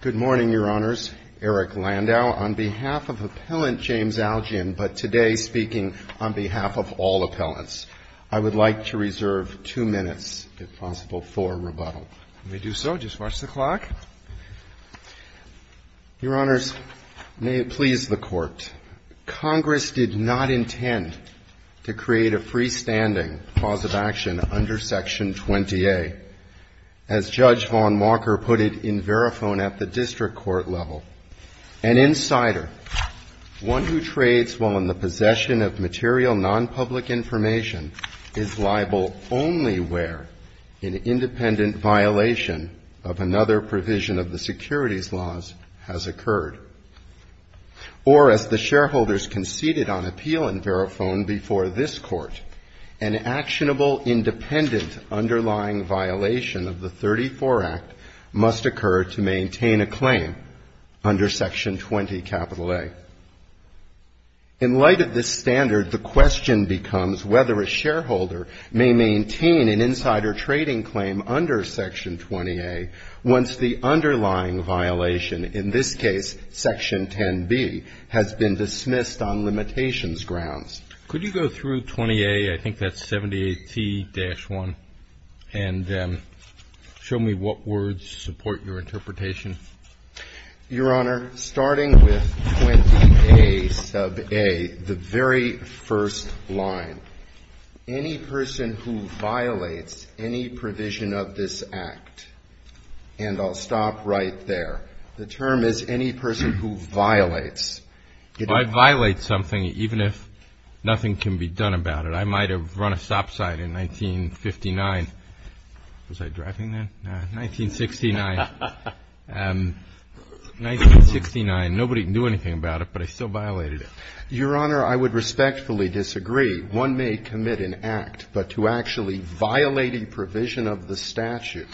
Good morning, Your Honors. Eric Landau on behalf of Appellant James Aljian, but today speaking on behalf of all appellants. I would like to reserve two minutes, if possible, for rebuttal. Let me do so. Just watch the clock. Your Honors, may it please the Court, Congress did not intend to create a freestanding cause of action under Section 20A. As Judge Vaughn Walker put it in Verifone at the district court level, an insider, one who trades while in the possession of material non-public information, is liable only where an independent violation of another provision of the securities laws has occurred. Or, as the shareholders conceded on appeal in Verifone before this Court, an actionable independent underlying violation of the 34 Act must occur to maintain a claim under Section 20A. In light of this standard, the question becomes whether a shareholder may maintain an insider trading claim under Section 20A once the underlying violation, in this case Section 10B, has been dismissed on limitations grounds. Could you go through 20A, I think that's 78T-1, and show me what words support your interpretation? Your Honor, starting with 20A, sub A, the very first line, any person who violates any provision of this Act, and I'll stop right there, the term is any person who violates. I violate something even if nothing can be done about it. I might have run a stop sign in 1959. Was I driving then? No, 1969. 1969. Nobody knew anything about it, but I still violated it. Your Honor, I would respectfully disagree. One may commit an act, but to actually violate a provision of the statute,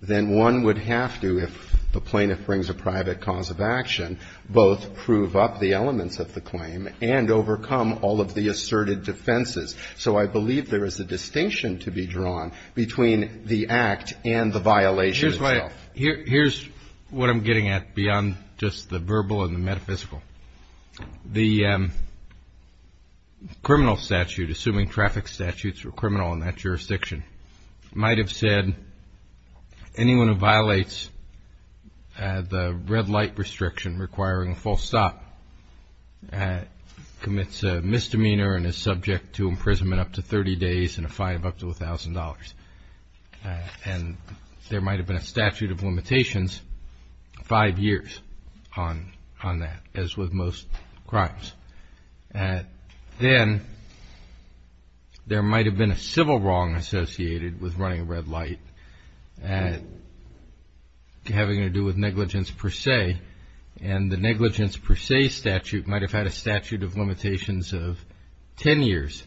then one would have to, if the plaintiff brings a private cause of action, both prove up the elements of the claim and overcome all of the asserted defenses. So I believe there is a distinction to be drawn between the act and the violation itself. Here's what I'm getting at beyond just the verbal and the metaphysical. The criminal statute, assuming traffic statutes were criminal in that jurisdiction, might have said anyone who violates the red light restriction requiring a false stop commits a misdemeanor and is subject to imprisonment up to 30 days and a fine of up to $1,000. And there might have been a statute of limitations five years on that, as with most crimes. Then there might have been a civil wrong associated with running a red light having to do with negligence per se, and the negligence per se statute might have had a statute of limitations of 10 years.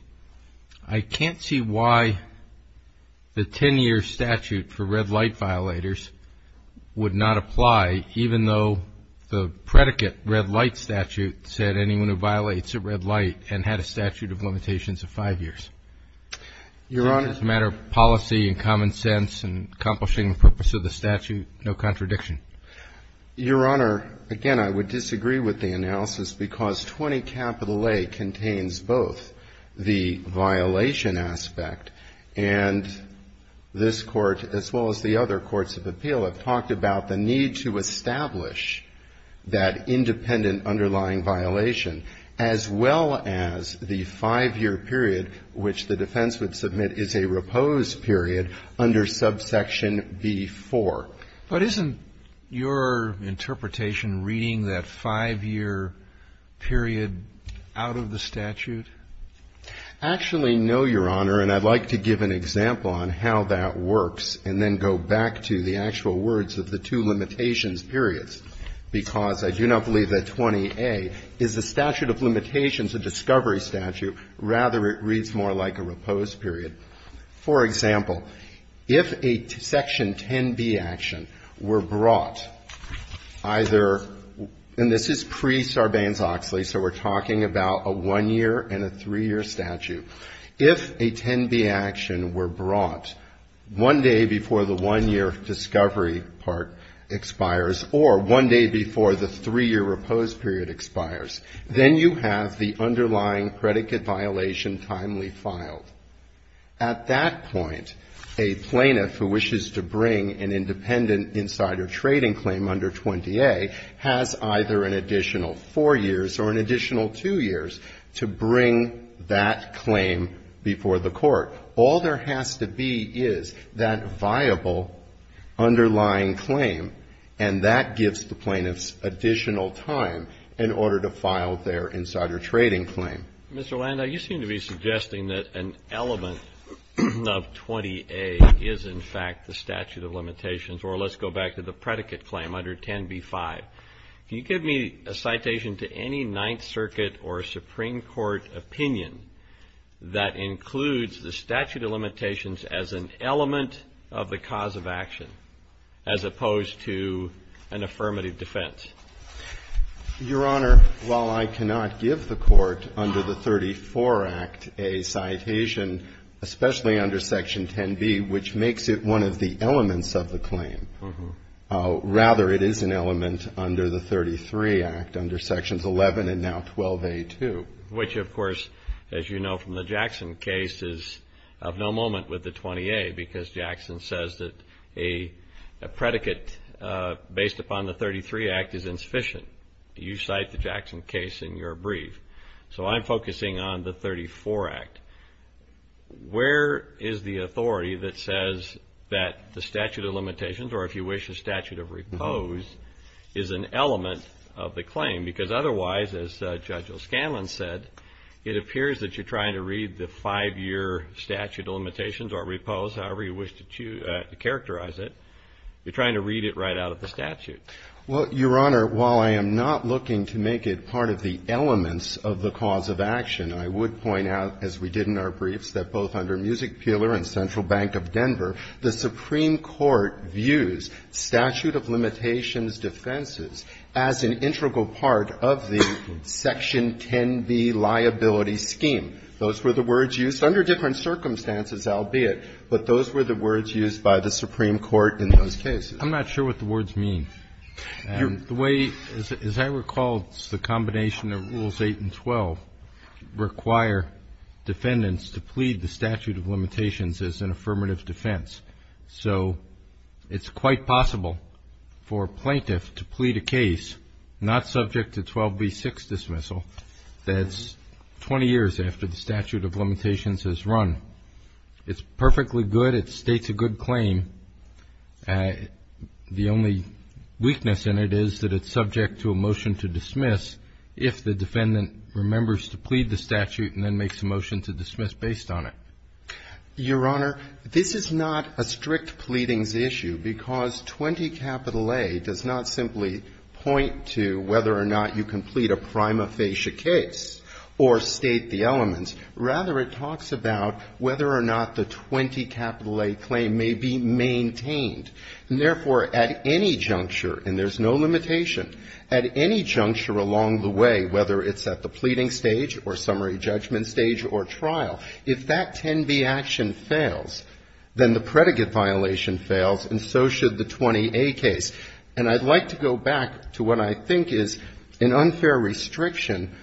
I can't see why the 10-year statute for red light violators would not apply, even though the predicate, red light statute, said anyone who violates a red light and had a statute of limitations of five years. Your Honor It's just a matter of policy and common sense and accomplishing the purpose of the statute, no contradiction. Your Honor, again, I would disagree with the analysis because 20A contains both the violation aspect and this Court, as well as the other courts of appeal, have talked about the need to establish that independent underlying violation, as well as the five-year period, which the defense would submit is a repose period, under subsection B-4. Roberts But isn't your interpretation reading that five-year period out of the statute? Garrett Actually, no, Your Honor, and I'd like to I do not believe that 20A is a statute of limitations, a discovery statute. Rather, it reads more like a repose period. For example, if a section 10b action were brought, either — and this is pre-Sarbanes-Oxley, so we're talking about a one-year and a three-year statute. If a 10b action were brought one day before the one-year discovery part expires, or one day before the three-year repose period expires, then you have the underlying predicate violation timely filed. At that point, a plaintiff who wishes to bring an independent insider trading claim under 20A has either an additional four years or an additional two years to bring that claim before the Court. All there has to be is that viable underlying claim, and that gives the plaintiffs additional time in order to file their insider trading claim. Roberts Mr. Landau, you seem to be suggesting that an element of 20A is, in fact, the statute of limitations, or let's go back to the predicate claim under 10b-5. Can you give me a citation to any Ninth Circuit or Supreme Court opinion that includes the statute of limitations as an element of the cause of action, as opposed to an affirmative defense? Landau Your Honor, while I cannot give the Court under the 34 Act a citation, especially under Section 10b, which makes it one of the elements of the claim, rather, it is an element under the 33 Act, under Sections 11 and now 12a-2. Roberts Which, of course, as you know from the Jackson case, is of no moment with the 20A, because Jackson says that a predicate based upon the 33 Act is insufficient. You cite the Jackson case in your brief. So I'm focusing on the 34 Act. Where is the authority that says that the statute of limitations, or if you wish, a statute of repose, is an element of the claim? Because otherwise, as Judge O'Scanlan said, it appears that you're trying to read the five-year statute of limitations or repose, however you wish to characterize it. You're trying to read it right out of the statute. Landau Well, Your Honor, while I am not looking to make it part of the elements of the cause of action, I would point out, as we did in our briefs, that both under Music Peeler and Central Bank of Denver, the Supreme Court views statute of limitations defenses as an integral part of the Section 10b liability scheme. Those were the words used under different circumstances, albeit, but those were the words used by the Supreme Court in those cases. Roberts I'm not sure what the words mean. The way, as I recall, it's the combination of Rules 8 and 12 require defendants to plead the statute of limitations as an affirmative defense. So it's quite possible for a plaintiff to plead a case not subject to 12b6 dismissal that's 20 years after the statute of limitations has run. It's perfectly good. It states a good claim. The only weakness in it is that it's subject to a motion to dismiss if the defendant remembers to plead the statute and then makes a motion to dismiss based on it. Your Honor, this is not a strict pleadings issue, because 20A does not simply point to whether or not you can plead a prima facie case or state the elements. Rather, it talks about whether or not the 20A claim may be maintained. And therefore, at any juncture, and there's no limitation, at any juncture along the way, whether it's at the pleading stage or summary judgment stage or trial, if that 10b action fails, then the predicate violation fails, and so should the 20A case. And I'd like to go back to what I think is an unfair restriction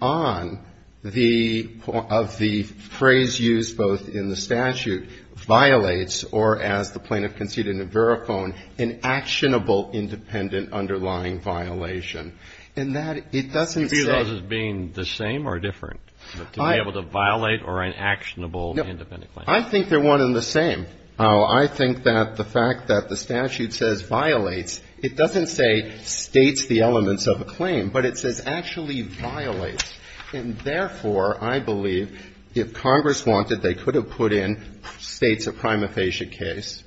on the, of the phrase used both in the statute, violates, or as the plaintiff conceded in Verifone, an actionable independent underlying violation. And that, it doesn't say to be able to violate or an actionable independent claim. I think they're one and the same. I think that the fact that the statute says violates, it doesn't say states the elements of a claim, but it says actually violates. And therefore, I believe if Congress wanted, they could have put in states a prima facie case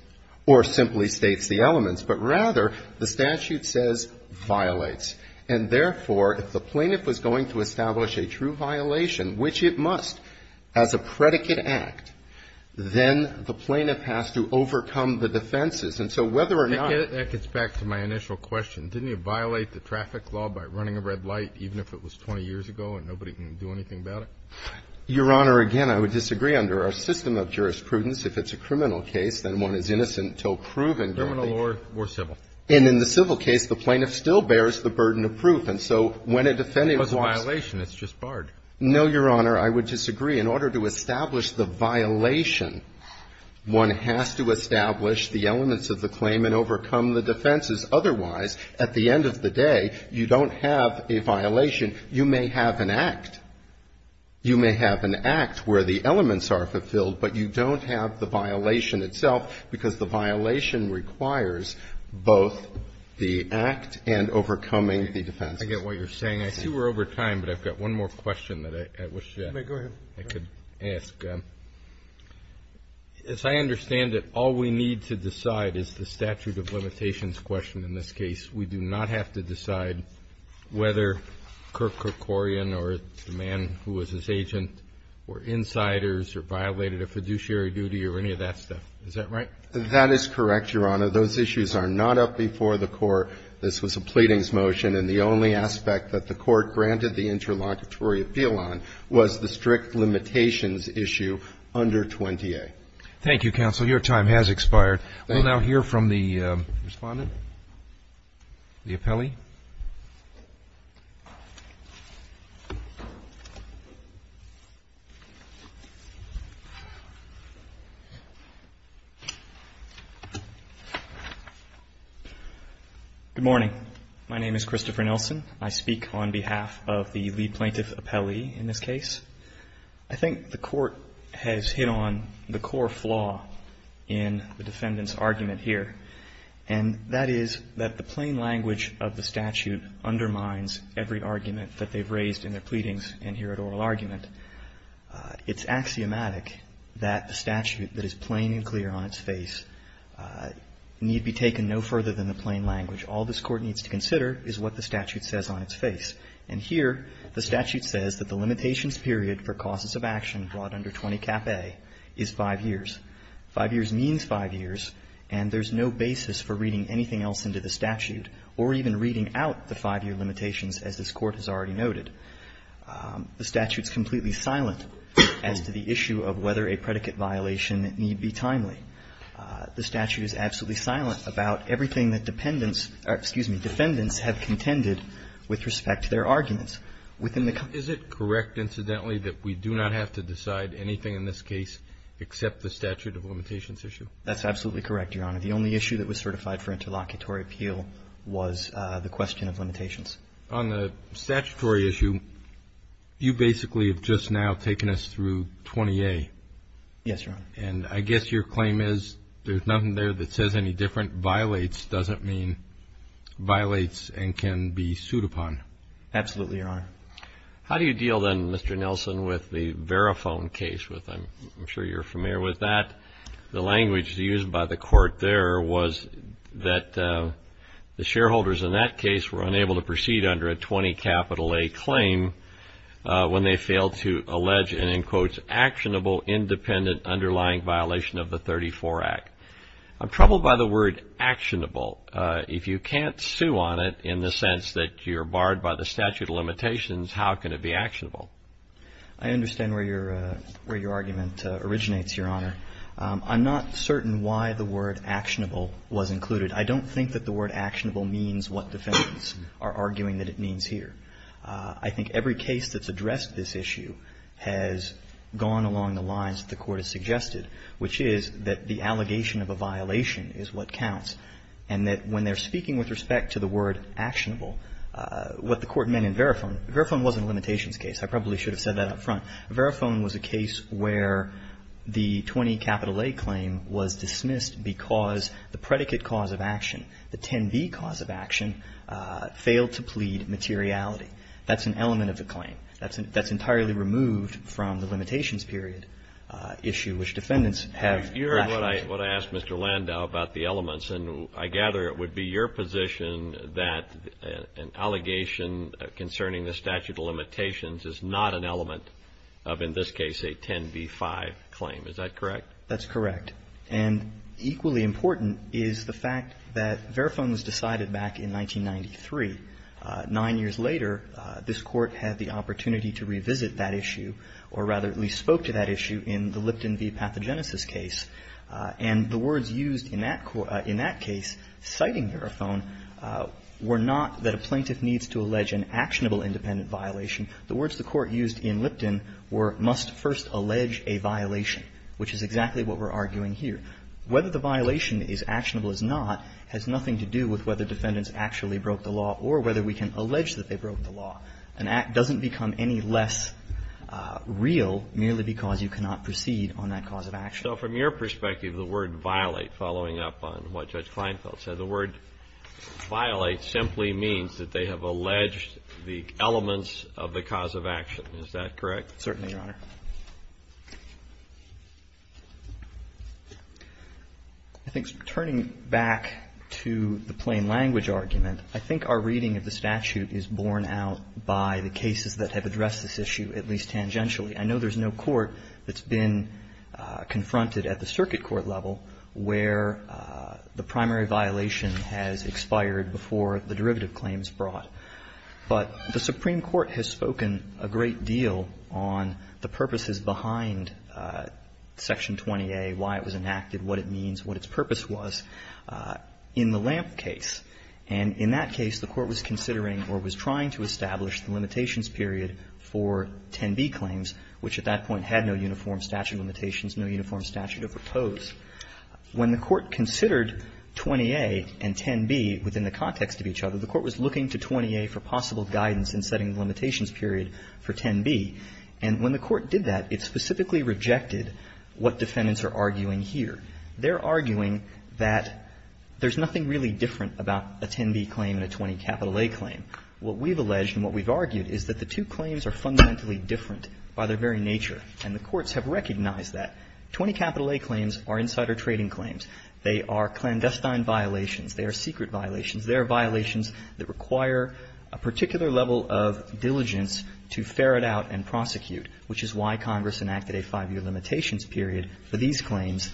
or simply states the elements. But rather, the statute says violates. And therefore, if the plaintiff was going to establish a true violation, which it must, as a predicate act, then the plaintiff has to overcome the defenses. And so whether or not ---- Kennedy, that gets back to my initial question. Didn't he violate the traffic law by running a red light, even if it was 20 years ago and nobody can do anything about it? Your Honor, again, I would disagree under our system of jurisprudence. If it's a criminal case, then one is innocent until proven guilty. Criminal or civil? And in the civil case, the plaintiff still bears the burden of proof. And so when a defendant was ---- It was a violation. It's just barred. No, Your Honor. I would disagree. In order to establish the violation, one has to establish the elements of the claim and overcome the defenses. Otherwise, at the end of the day, you don't have a violation. You may have an act. You may have an act where the elements are fulfilled, but you don't have the violation itself because the violation requires both the act and overcoming the defenses. I get what you're saying. I see we're over time, but I've got one more question that I wish I could ask. Go ahead. As I understand it, all we need to decide is the statute of limitations question in this case. We do not have to decide whether Kirk Kerkorian or the man who was his agent were insiders or violated a fiduciary duty or any of that stuff. Is that right? That is correct, Your Honor. Those issues are not up before the court. This was a pleadings motion, and the only aspect that the court granted the interlocutory appeal on was the strict limitations issue under 20A. Thank you, counsel. Your time has expired. Thank you. We will now hear from the respondent, the appellee. Good morning. My name is Christopher Nelson. I speak on behalf of the lead plaintiff case. I think the court has hit on the core flaw in the defendant's argument here, and that is that the plain language of the statute undermines every argument that they've raised in their pleadings and here at oral argument. It's axiomatic that the statute that is plain and clear on its face need be taken no further than the plain language. All this court needs to consider is what the statute says on its face. And here the statute says that the limitations period for causes of action brought under 20 Cap A is 5 years. 5 years means 5 years, and there's no basis for reading anything else into the statute or even reading out the 5-year limitations, as this Court has already noted. The statute is completely silent as to the issue of whether a predicate violation need be timely. The statute is absolutely silent about everything that dependents have contended with respect to their arguments. Is it correct, incidentally, that we do not have to decide anything in this case except the statute of limitations issue? That's absolutely correct, Your Honor. The only issue that was certified for interlocutory appeal was the question of limitations. On the statutory issue, you basically have just now taken us through 20A. Yes, Your Honor. And I guess your claim is there's nothing there that says any different. Violates doesn't mean violates and can be sued upon. Absolutely, Your Honor. How do you deal then, Mr. Nelson, with the Verifone case? I'm sure you're familiar with that. The language used by the court there was that the shareholders in that case were unable to proceed under a 20 A claim when they failed to allege an quote, actionable, independent, underlying violation of the 34 Act. I'm troubled by the word actionable. If you can't sue on it in the sense that you're barred by the statute of limitations, how can it be actionable? I understand where your argument originates, Your Honor. I'm not certain why the word actionable was included. I don't think that the word actionable means what defendants are arguing that it means here. I think every case that's addressed this issue has gone along the lines that the Court has suggested, which is that the allegation of a violation is what counts. And that when they're speaking with respect to the word actionable, what the Court meant in Verifone, Verifone wasn't a limitations case. I probably should have said that up front. Verifone was a case where the 20 capital A claim was dismissed because the predicate cause of action, the 10B cause of action, failed to plead materiality. That's an element of the claim. That's entirely removed from the limitations period issue, which defendants have rationalized. You heard what I asked Mr. Landau about the elements. And I gather it would be your position that an allegation concerning the statute of limitations is not an element of, in this case, a 10B-5 claim. Is that correct? That's correct. And equally important is the fact that Verifone was decided back in 1993. Nine years later, this Court had the opportunity to revisit that issue, or rather at least spoke to that issue in the Lipton v. Pathogenesis case. And the words used in that case citing Verifone were not that a plaintiff needs to allege an actionable independent violation. The words the Court used in Lipton were, must first allege a violation, which is exactly what we're arguing here. Whether the violation is actionable or not has nothing to do with whether defendants actually broke the law or whether we can allege that they broke the law. An act doesn't become any less real merely because you cannot proceed on that cause of action. So from your perspective, the word violate following up on what Judge Kleinfeld said, the word violate simply means that they have alleged the elements of the cause of action. Is that correct? Certainly, Your Honor. I think turning back to the plain language argument, I think our reading of the statute is borne out by the cases that have addressed this issue, at least tangentially. I know there's no court that's been confronted at the circuit court level where the primary violation has expired before the derivative claim is brought. But the Supreme Court has spoken a great deal on the purposes behind Section 20A, why it was enacted, what it means, what its purpose was in the Lamp case. And in that case, the Court was considering or was trying to establish the limitations period for 10b claims, which at that point had no uniform statute of limitations, no uniform statute of repose. When the Court considered 20A and 10b within the context of each other, the Court was looking to 20A for possible guidance in setting the limitations period for 10b. And when the Court did that, it specifically rejected what defendants are arguing here. They're arguing that there's nothing really different about a 10b claim and a 20 A claim. What we've alleged and what we've argued is that the two claims are fundamentally different by their very nature, and the courts have recognized that. 20 A claims are insider trading claims. They are clandestine violations. They are secret violations. They are violations that require a particular level of diligence to ferret out and prosecute, which is why Congress enacted a 5-year limitations period for these claims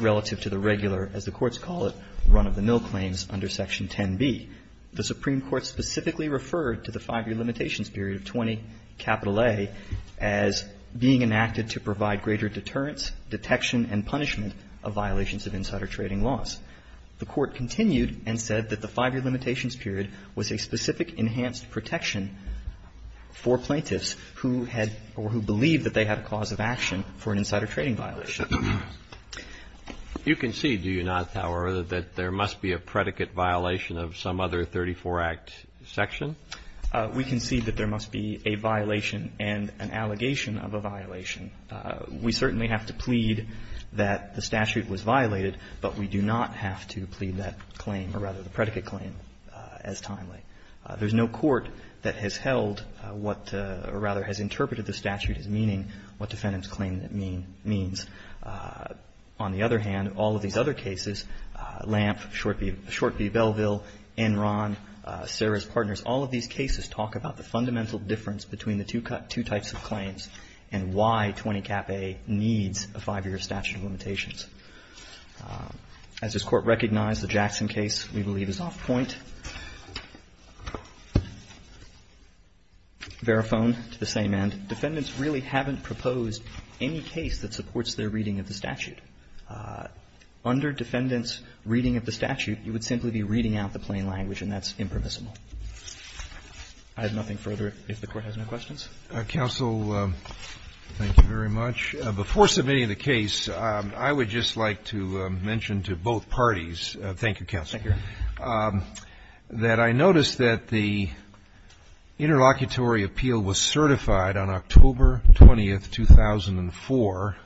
relative to the regular, as the courts call it, run-of-the-mill claims under Section 10b. The Supreme Court specifically referred to the 5-year limitations period of 20 A as being enacted to provide greater deterrence, detection, and punishment of violations of insider trading laws. The Court continued and said that the 5-year limitations period was a specific enhanced protection for plaintiffs who had or who believed that they had a cause of action for an insider trading violation. You concede, do you not, Howard, that there must be a predicate violation of some other 34-Act section? We concede that there must be a violation and an allegation of a violation. We certainly have to plead that the statute was violated, but we do not have to plead that claim, or rather the predicate claim, as timely. There's no court that has held what, or rather has interpreted the statute as meaning what defendant's claim means. On the other hand, all of these other cases, Lamp, Shortby-Belleville, Enron, Sarah's Partners, all of these cases talk about the fundamental difference between the two types of claims and why 20 Cap A needs a 5-year statute of limitations. As this Court recognized, the Jackson case, we believe, is off point. Verifone to the same end. Defendants really haven't proposed any case that supports their reading of the statute. Under defendants' reading of the statute, you would simply be reading out the plain language, and that's impermissible. I have nothing further, if the Court has no questions. Counsel, thank you very much. Before submitting the case, I would just like to mention to both parties, thank you, Counsel. Thank you. That I noticed that the interlocutory appeal was certified on October 20th, 2004,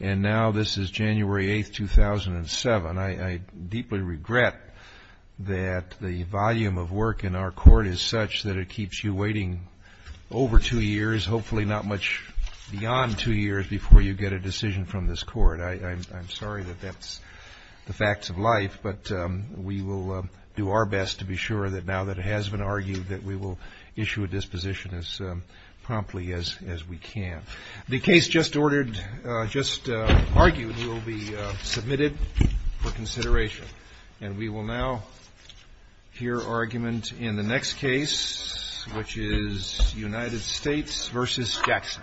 and now this is January 8th, 2007. I deeply regret that the volume of work in our Court is such that it keeps you waiting over two years, hopefully not much beyond two years, before you get a decision from this Court. I'm sorry that that's the facts of life, but we will do our best to be sure that now that it has been argued that we will issue a disposition as promptly as we can. The case just argued will be submitted for consideration, and we will now hear argument in the next case, which is United States v. Jackson. Thank you.